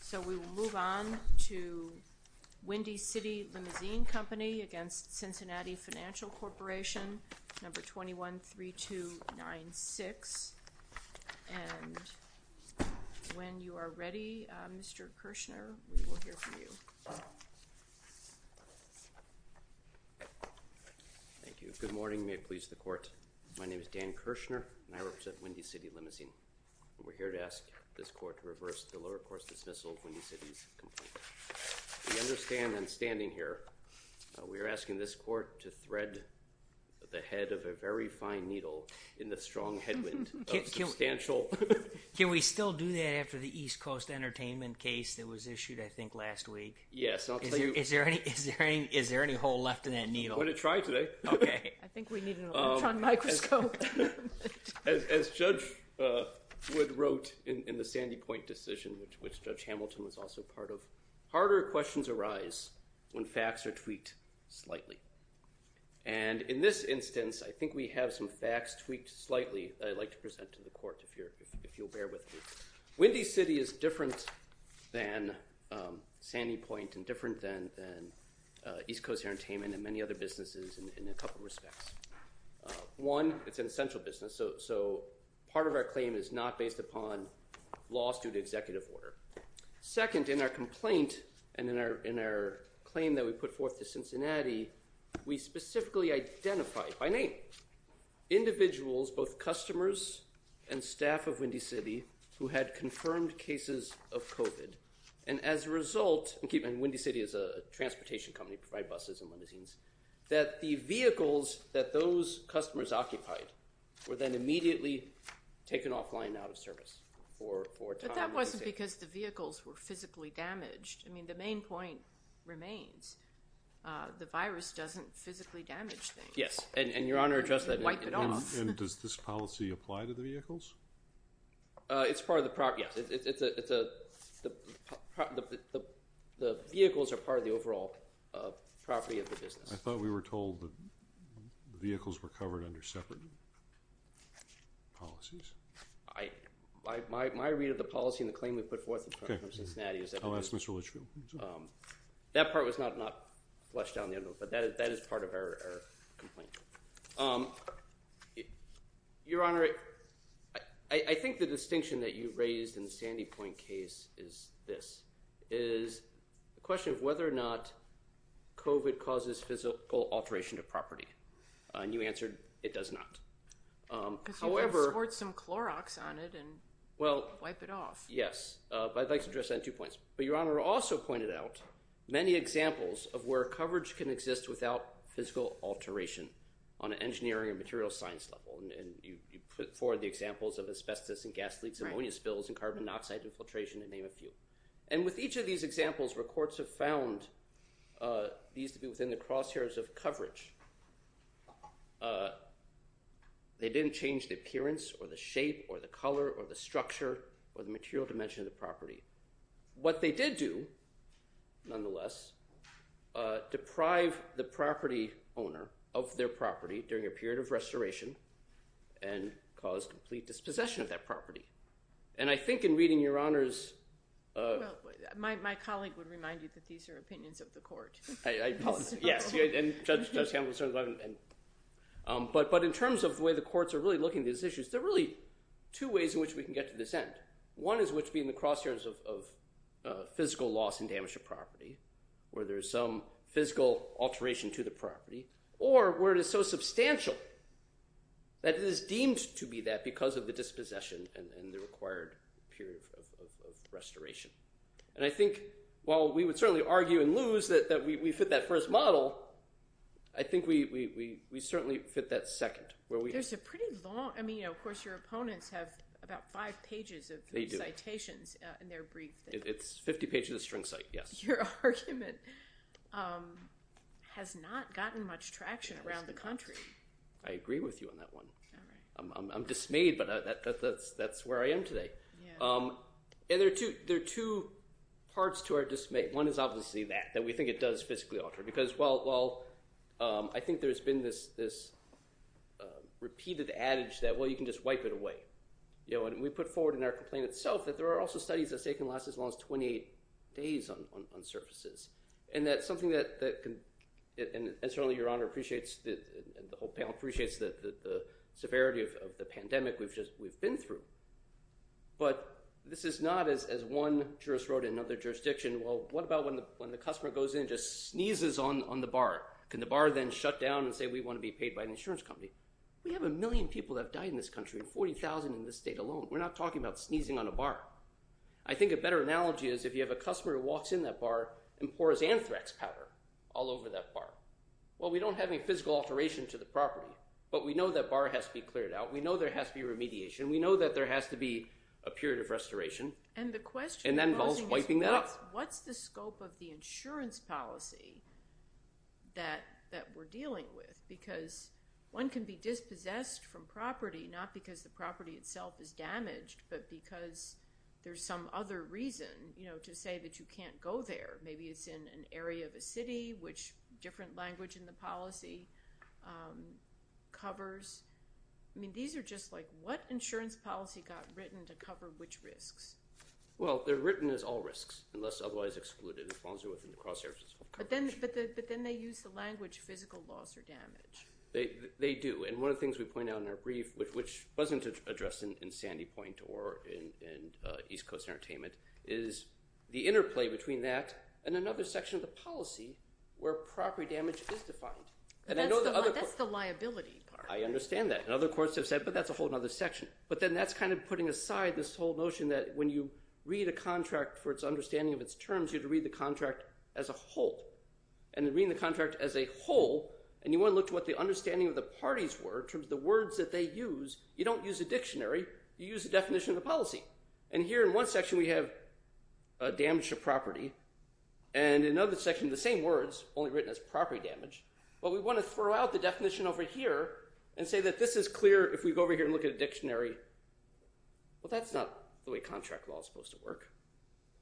So we will move on to Windy City Limousine Company against Cincinnati Financial Corporation, number 21-3296. And when you are ready, Mr. Kirshner, we will hear from you. Thank you. Good morning. May it please the Court. My name is Dan Kirshner, and I represent the Lower Course Dismissal, Windy City's complaint. We understand that standing here, we are asking this Court to thread the head of a very fine needle in the strong headwind of substantial... Can we still do that after the East Coast Entertainment case that was issued, I think, last week? Yes, I'll tell you... Is there any hole left in that needle? I'm going to try today. Okay. I think we need an electron microscope. As Judge Wood wrote in the Sandy Point decision, which Judge Hamilton was also part of, harder questions arise when facts are tweaked slightly. And in this instance, I think we have some facts tweaked slightly that I'd like to present to the Court, if you'll bear with me. Windy City is different than Sandy Point and different than East Coast Entertainment and many other businesses in a couple of respects. One, it's an essential business, so part of our claim is not based upon laws due to executive order. Second, in our complaint and in our claim that we put forth to Cincinnati, we specifically identified, by name, individuals, both customers and staff of Windy City, who had confirmed cases of COVID. And as a result, and Windy City is a transportation company, they provide buses and limousines, that the vehicles that those customers occupied were then immediately taken offline and out of service for a time. But that wasn't because the vehicles were physically damaged. I mean, the main point remains. The virus doesn't physically damage things. Yes, and Your Honor addressed that. It doesn't wipe it off. And does this policy apply to the vehicles? It's part of the property, yes. The vehicles are part of the overall property of the business. I thought we were told that the vehicles were covered under separate policies. My read of the policy and the claim we put forth to Cincinnati is that... I'll ask Mr. Litchfield. That part was not flushed down the end of it, but that is part of our complaint. Um, Your Honor, I think the distinction that you raised in the Sandy Point case is this, is the question of whether or not COVID causes physical alteration to property. And you answered, it does not. Because you can squirt some Clorox on it and wipe it off. Yes, but I'd like to address that in two points. But Your Honor also pointed out many examples of where coverage can exist without physical alteration. On an engineering and material science level, and you put forward the examples of asbestos and gas leaks, ammonia spills, and carbon monoxide infiltration, to name a few. And with each of these examples, records have found these to be within the crosshairs of coverage. They didn't change the appearance or the shape or the color or the structure or the material dimension of the property. What they did do, nonetheless, deprive the property owner of their property during a period of restoration and cause complete dispossession of that property. And I think in reading Your Honor's... My colleague would remind you that these are opinions of the court. Yes, and Judge Campbell certainly... But in terms of the way the courts are really looking at these issues, there are really two ways in which we can get to this end. One is which being the crosshairs of physical loss and damage of property, where there's some physical alteration to the property, or where it is so substantial that it is deemed to be that because of the dispossession and the required period of restoration. And I think while we would certainly argue and lose that we fit that first model, I think we certainly fit that second, where we... There's a pretty long... Citations in their brief. It's 50 pages of string cite, yes. Your argument has not gotten much traction around the country. I agree with you on that one. I'm dismayed, but that's where I am today. And there are two parts to our dismay. One is obviously that, that we think it does physically alter. Because while I think there's been this repeated adage that, well, you can just wipe it away. You know, and we put forward in our complaint itself that there are also studies that say can last as long as 28 days on surfaces. And that's something that can... And certainly your honor appreciates, the whole panel appreciates the severity of the pandemic we've been through. But this is not as one jurist wrote in another jurisdiction. Well, what about when the customer goes in and just sneezes on the bar? Can the bar then shut down and say, we want to be paid by an insurance company? We have a million people that have died in this country. 40,000 in this state alone. We're not talking about sneezing on a bar. I think a better analogy is if you have a customer who walks in that bar and pours anthrax powder all over that bar. Well, we don't have any physical alteration to the property, but we know that bar has to be cleared out. We know there has to be remediation. We know that there has to be a period of restoration. And the question... And that involves wiping that up. What's the scope of the insurance policy that we're dealing with? Because one can be dispossessed from property, not because the property itself is damaged, but because there's some other reason, you know, to say that you can't go there. Maybe it's in an area of a city, which different language in the policy covers. I mean, these are just like, what insurance policy got written to cover which risks? Well, they're written as all risks, unless otherwise excluded, as long as they're within the cross-services coverage. But then they use the language physical loss or damage. They do. And one of the things we point out in our brief, which wasn't addressed in Sandy Point or in East Coast Entertainment, is the interplay between that and another section of the policy where property damage is defined. And I know the other... That's the liability part. I understand that. And other courts have said, but that's a whole other section. But then that's kind of putting aside this whole notion that when you read a contract for its understanding of its terms, you have to read the contract as a whole. And reading the contract as a whole, and you want to look to what the understanding of the parties were, terms of the words that they use, you don't use a dictionary. You use the definition of the policy. And here in one section, we have damage to property. And in another section, the same words, only written as property damage. But we want to throw out the definition over here and say that this is clear if we go over here and look at a dictionary. Well, that's not the way contract law is supposed to work.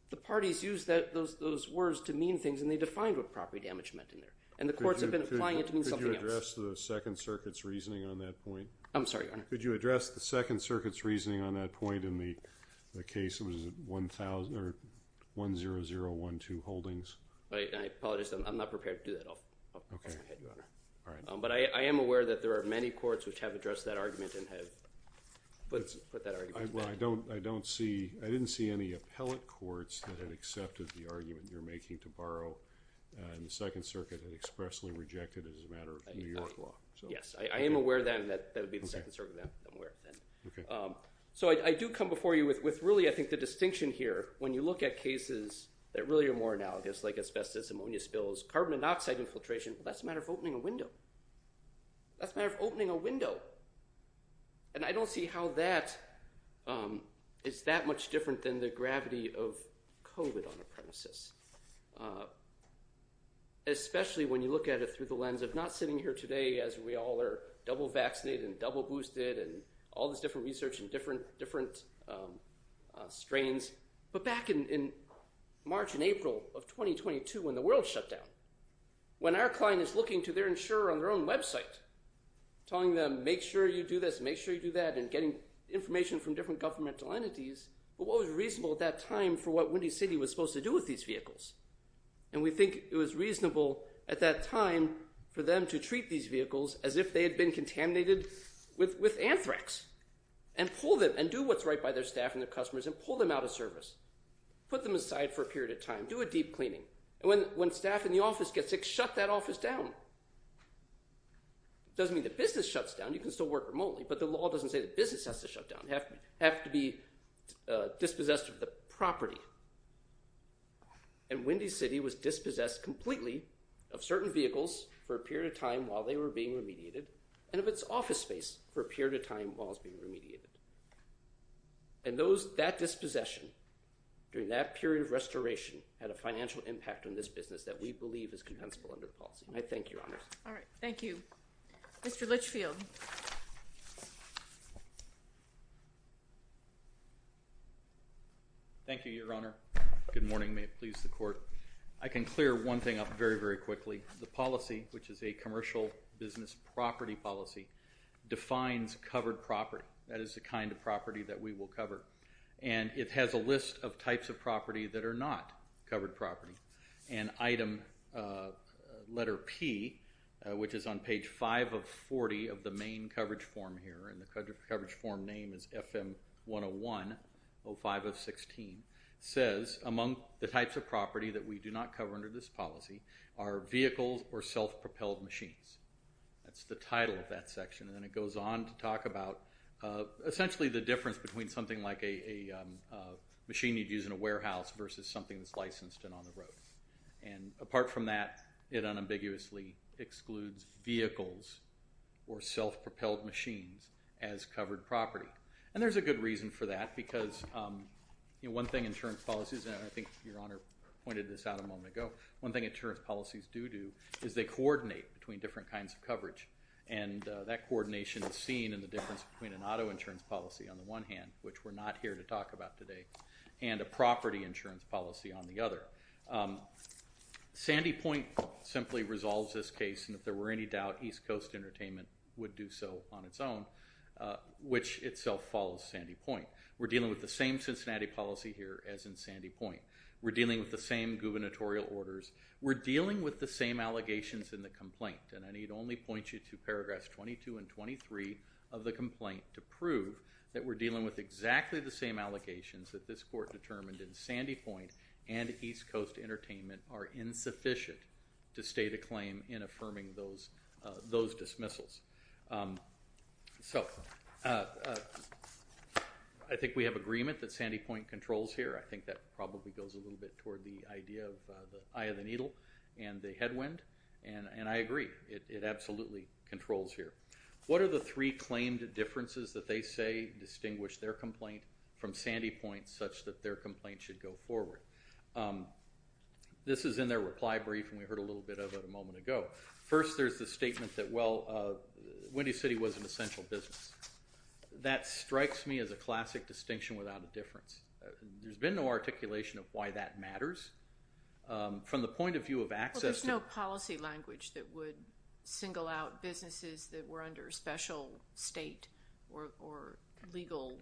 The parties use those words to mean things and they defined what property damage meant in there. And the courts have been applying it to mean something else. Could you address the Second Circuit's reasoning on that point? I'm sorry, Your Honor. Could you address the Second Circuit's reasoning on that point in the case? It was 10012 Holdings. I apologize. I'm not prepared to do that. I'll pass it ahead, Your Honor. All right. But I am aware that there are many courts which have addressed that argument and have put that argument back. Well, I don't see, I didn't see any appellate courts that had accepted the argument you're making to borrow. And the Second Circuit had expressly rejected it as a matter of New York law. Yes. I am aware then that that would be the Second Circuit that I'm aware of then. So I do come before you with really, I think, the distinction here when you look at cases that really are more analogous like asbestos, ammonia spills, carbon monoxide infiltration. That's a matter of opening a window. That's a matter of opening a window. And I don't see how that is that much different than the gravity of COVID on a premises. Especially when you look at it through the lens of not sitting here today as we all are double vaccinated and double boosted and all this different research and different strains. But back in March and April of 2022 when the world shut down, when our client is looking to their insurer on their own website, telling them, make sure you do this, make sure you do that and getting information from different governmental entities. But what was reasonable at that time for what Windy City was supposed to do with these vehicles? And we think it was reasonable at that time for them to treat these vehicles as if they had been contaminated with anthrax and pull them and do what's right by their staff and their customers and pull them out of service. Put them aside for a period of time. Do a deep cleaning. And when staff in the office gets sick, shut that office down. It doesn't mean the business shuts down. You can still work remotely, but the law doesn't say the business has to shut down. You have to be dispossessed of the property. And Windy City was dispossessed completely of certain vehicles for a period of time while they were being remediated and of its office space for a period of time while it's being remediated. And that dispossession during that period of restoration had a financial impact on this business that we believe is compensable under the policy. And I thank you, Your Honor. All right. Thank you. Mr. Litchfield. Thank you, Your Honor. Good morning. May it please the court. I can clear one thing up very, very quickly. The policy, which is a commercial business property policy, defines covered property. That is the kind of property that we will cover. And it has a list of types of property that are not covered property. And item, letter P, which is on page 5 of 40 of the main coverage form here, and the coverage form name is FM 101, 05 of 16, says among the types of property that we do not cover under this policy are vehicles or self-propelled machines. That's the title of that section. And then it goes on to talk about essentially the difference between something like a machine you'd use in a warehouse versus something that's licensed and on the road. And apart from that, it unambiguously excludes vehicles or self-propelled machines as covered property. And there's a good reason for that because, you know, one thing insurance policies, and I think Your Honor pointed this out a moment ago, one thing insurance policies do do is they coordinate between different kinds of coverage. And that coordination is seen in the difference between an auto insurance policy on the one hand, which we're not here to talk about today, and a property insurance policy on the other. Sandy Point simply resolves this case. And if there were any doubt, East Coast Entertainment would do so on its own, which itself follows Sandy Point. We're dealing with the same Cincinnati policy here as in Sandy Point. We're dealing with the same gubernatorial orders. We're dealing with the same allegations in the complaint. And I need only point you to paragraphs 22 and 23 of the complaint to prove that we're dealing with exactly the same allegations that this court determined in Sandy Point and East Coast Entertainment are insufficient to state a claim in affirming those dismissals. So I think we have agreement that Sandy Point controls here. I think that probably goes a little bit toward the idea of the eye of the needle and the headwind. And I agree. It absolutely controls here. What are the three claimed differences that they say distinguish their complaint from Sandy Point such that their complaint should go forward? This is in their reply brief and we heard a little bit of it a moment ago. First, there's the statement that, well, Windy City was an essential business. That strikes me as a classic distinction without a difference. There's been no articulation of why that matters. From the point of view of access... There's no policy language that would single out businesses that were under special state or legal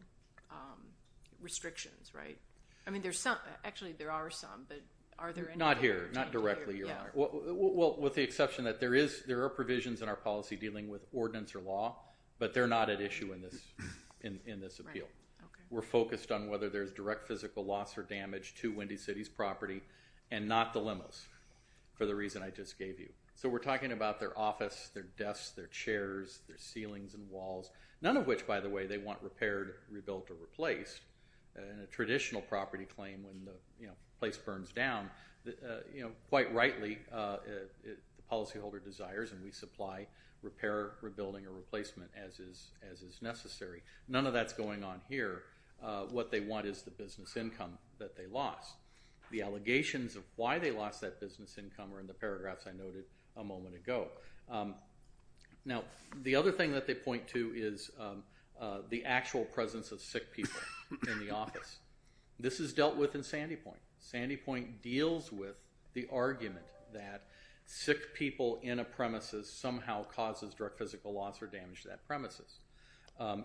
restrictions, right? I mean, there's some. Actually, there are some, but are there any... Not here. Not directly, Your Honor. Well, with the exception that there are provisions in our policy dealing with ordinance or law, but they're not at issue in this appeal. We're focused on whether there's direct physical loss or damage to Windy City's property and not the limos for the reason I just gave you. So we're talking about their office, their desks, their chairs, their ceilings and walls. None of which, by the way, they want repaired, rebuilt or replaced. In a traditional property claim when the place burns down, quite rightly, the policyholder desires and we supply repair, rebuilding or replacement as is necessary. None of that's going on here. What they want is the business income that they lost. The allegations of why they lost that business income are in the paragraphs I noted a moment ago. Now, the other thing that they point to is the actual presence of sick people in the office. This is dealt with in Sandy Point. Sandy Point deals with the argument that sick people in a premises somehow causes direct physical loss or damage to that premises.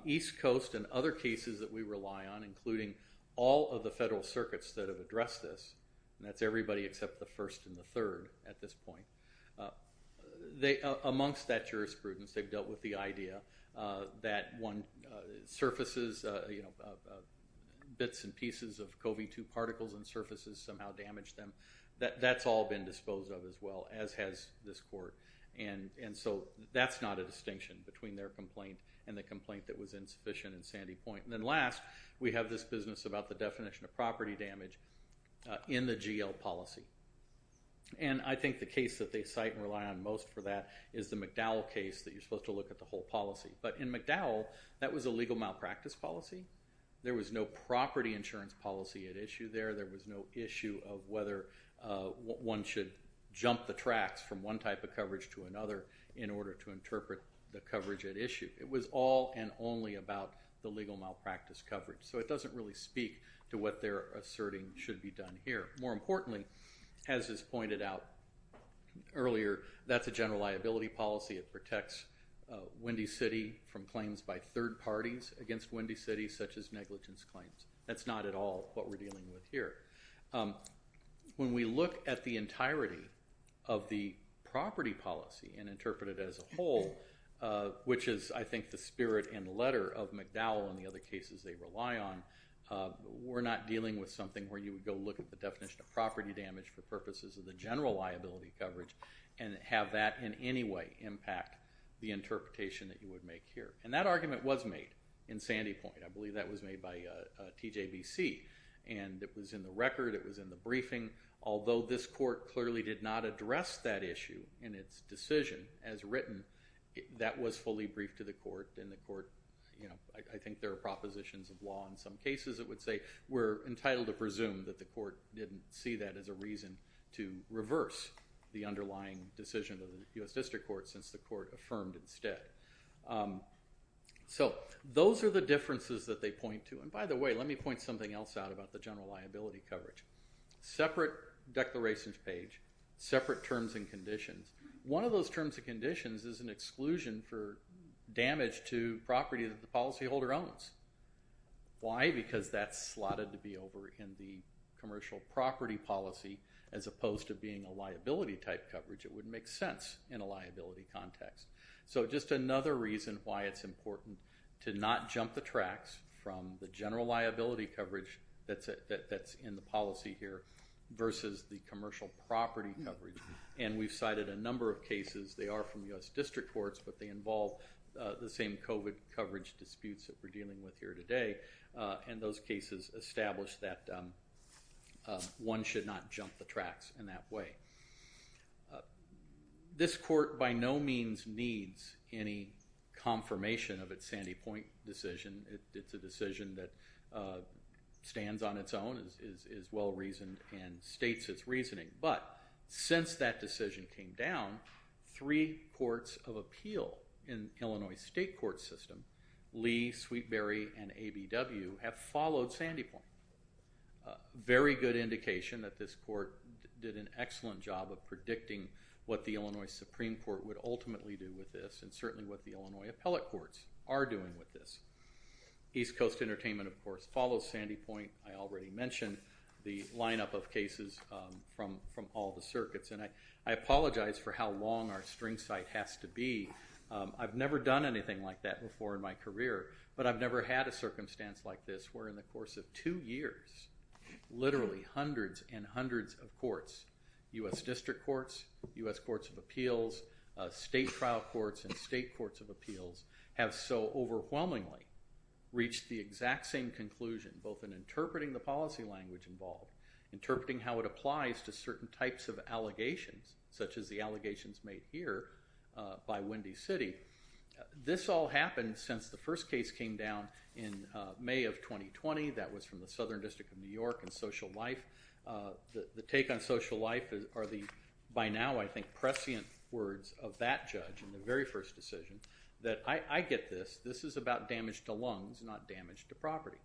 East Coast and other cases that we rely on, including all of the federal circuits that have addressed this, and that's everybody except the first and the third at this point. Amongst that jurisprudence, they've dealt with the idea that one surfaces bits and pieces of COVID-2 particles and surfaces somehow damage them. That's all been disposed of as well as has this court. So that's not a distinction between their complaint and the complaint that was insufficient in Sandy Point. Last, we have this business about the definition of property damage in the GL policy. I think the case that they cite and rely on most for that is the McDowell case that you're supposed to look at the whole policy. But in McDowell, that was a legal malpractice policy. There was no property insurance policy at issue there. There was no issue of whether one should jump the tracks from one type of coverage to another in order to interpret the coverage at issue. It was all and only about the legal malpractice coverage. So it doesn't really speak to what they're asserting should be done here. More importantly, as is pointed out earlier, that's a general liability policy. It protects Windy City from claims by third parties against Windy City, such as negligence claims. That's not at all what we're dealing with here. When we look at the entirety of the property policy and interpret it as a whole, which is, I think, the spirit and letter of McDowell and the other cases they rely on, we're not dealing with something where you would go look at the definition of property damage for purposes of the general liability coverage and have that in any way impact the interpretation that you would make here. And that argument was made in Sandy Point. I believe that was made by TJBC. And it was in the record. It was in the briefing. Although this court clearly did not address that issue in its decision as written, that was fully briefed to the court. And the court, you know, I think there are propositions of law in some cases, it would say, we're entitled to presume that the court didn't see that as a reason to reverse the underlying decision of the U.S. District Court since the court affirmed instead. So those are the differences that they point to. And by the way, let me point something else out about the general liability coverage. Separate declarations page, separate terms and conditions. One of those terms and conditions is an exclusion for damage to property that the policyholder owns. Why? Because that's slotted to be over in the commercial property policy as opposed to being a liability type coverage. It wouldn't make sense in a liability context. So just another reason why it's important to not jump the tracks from the general liability coverage that's in the policy here versus the commercial property coverage. And we've cited a number of cases. They are from U.S. District Courts, but they involve the same COVID coverage disputes that we're dealing with here today. And those cases establish that one should not jump the tracks in that way. This court by no means needs any confirmation of its Sandy Point decision. It's a decision that stands on its own, is well-reasoned and states its reasoning. But since that decision came down, three courts of appeal in Illinois state court system, Lee, Sweetberry and ABW have followed Sandy Point. Very good indication that this court did an excellent job of predicting what the Illinois Supreme Court would ultimately do with this and certainly what the Illinois appellate courts are doing with this. East Coast Entertainment, of course, follows Sandy Point. I already mentioned the lineup of cases from all the circuits. And I apologize for how long our string site has to be. I've never done anything like that before in my career, but I've never had a circumstance like this where in the course of two years, literally hundreds and hundreds of courts, U.S. district courts, U.S. courts of appeals, state trial courts and state courts of appeals have so overwhelmingly reached the exact same conclusion, both in interpreting the policy language involved, interpreting how it applies to certain types of allegations, such as the allegations made here by Windy City. This all happened since the first case came down in May of 2020. That was from the Southern District of New York and social life. The take on social life are the, by now, I think prescient words of that judge in the very first decision that I get this. This is about damage to lungs, not damage to property.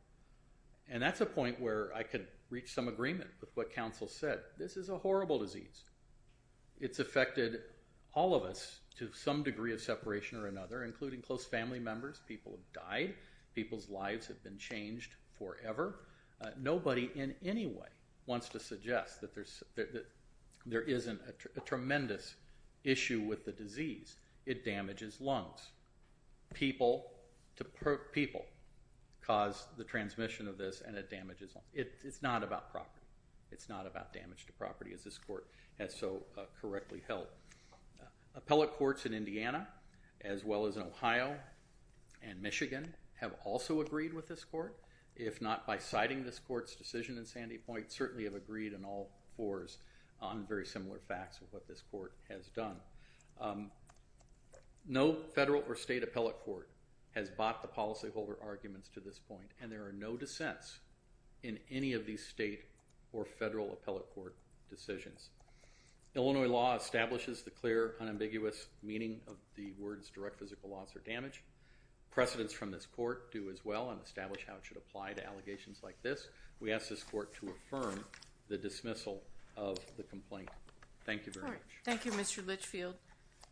And that's a point where I could reach some agreement with what counsel said. This is a horrible disease. It's affected all of us to some degree of separation or another, including close family members. People have died. People's lives have been changed forever. Nobody in any way wants to suggest that there's, there isn't a tremendous issue with the disease. It damages lungs. People to people cause the transmission of this and it damages them. It's not about property. It's not about damage to property as this court has so correctly held. Appellate courts in Indiana, as well as in Ohio and Michigan, have also agreed with this court. If not by citing this court's decision in Sandy Point, certainly have agreed in all fours on very similar facts of what this court has done. No federal or state appellate court has bought the policy holder arguments to this point. And there are no dissents in any of these state or federal appellate court decisions. Illinois law establishes the clear unambiguous meaning of the words direct physical loss or damage. Precedents from this court do as well and establish how it should apply to allegations like this. We ask this court to affirm the dismissal of the complaint. Thank you very much. Thank you, Mr. Litchfield.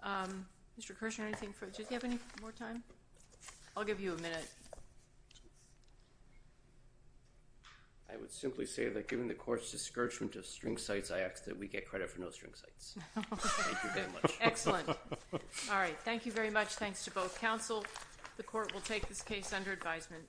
Mr. Kirshner, anything for, did you have any more time? I'll give you a minute. I would simply say that given the court's discouragement of string sites, we get credit for no string sites. Excellent. All right. Thank you very much. Thanks to both counsel. The court will take this case under advisement.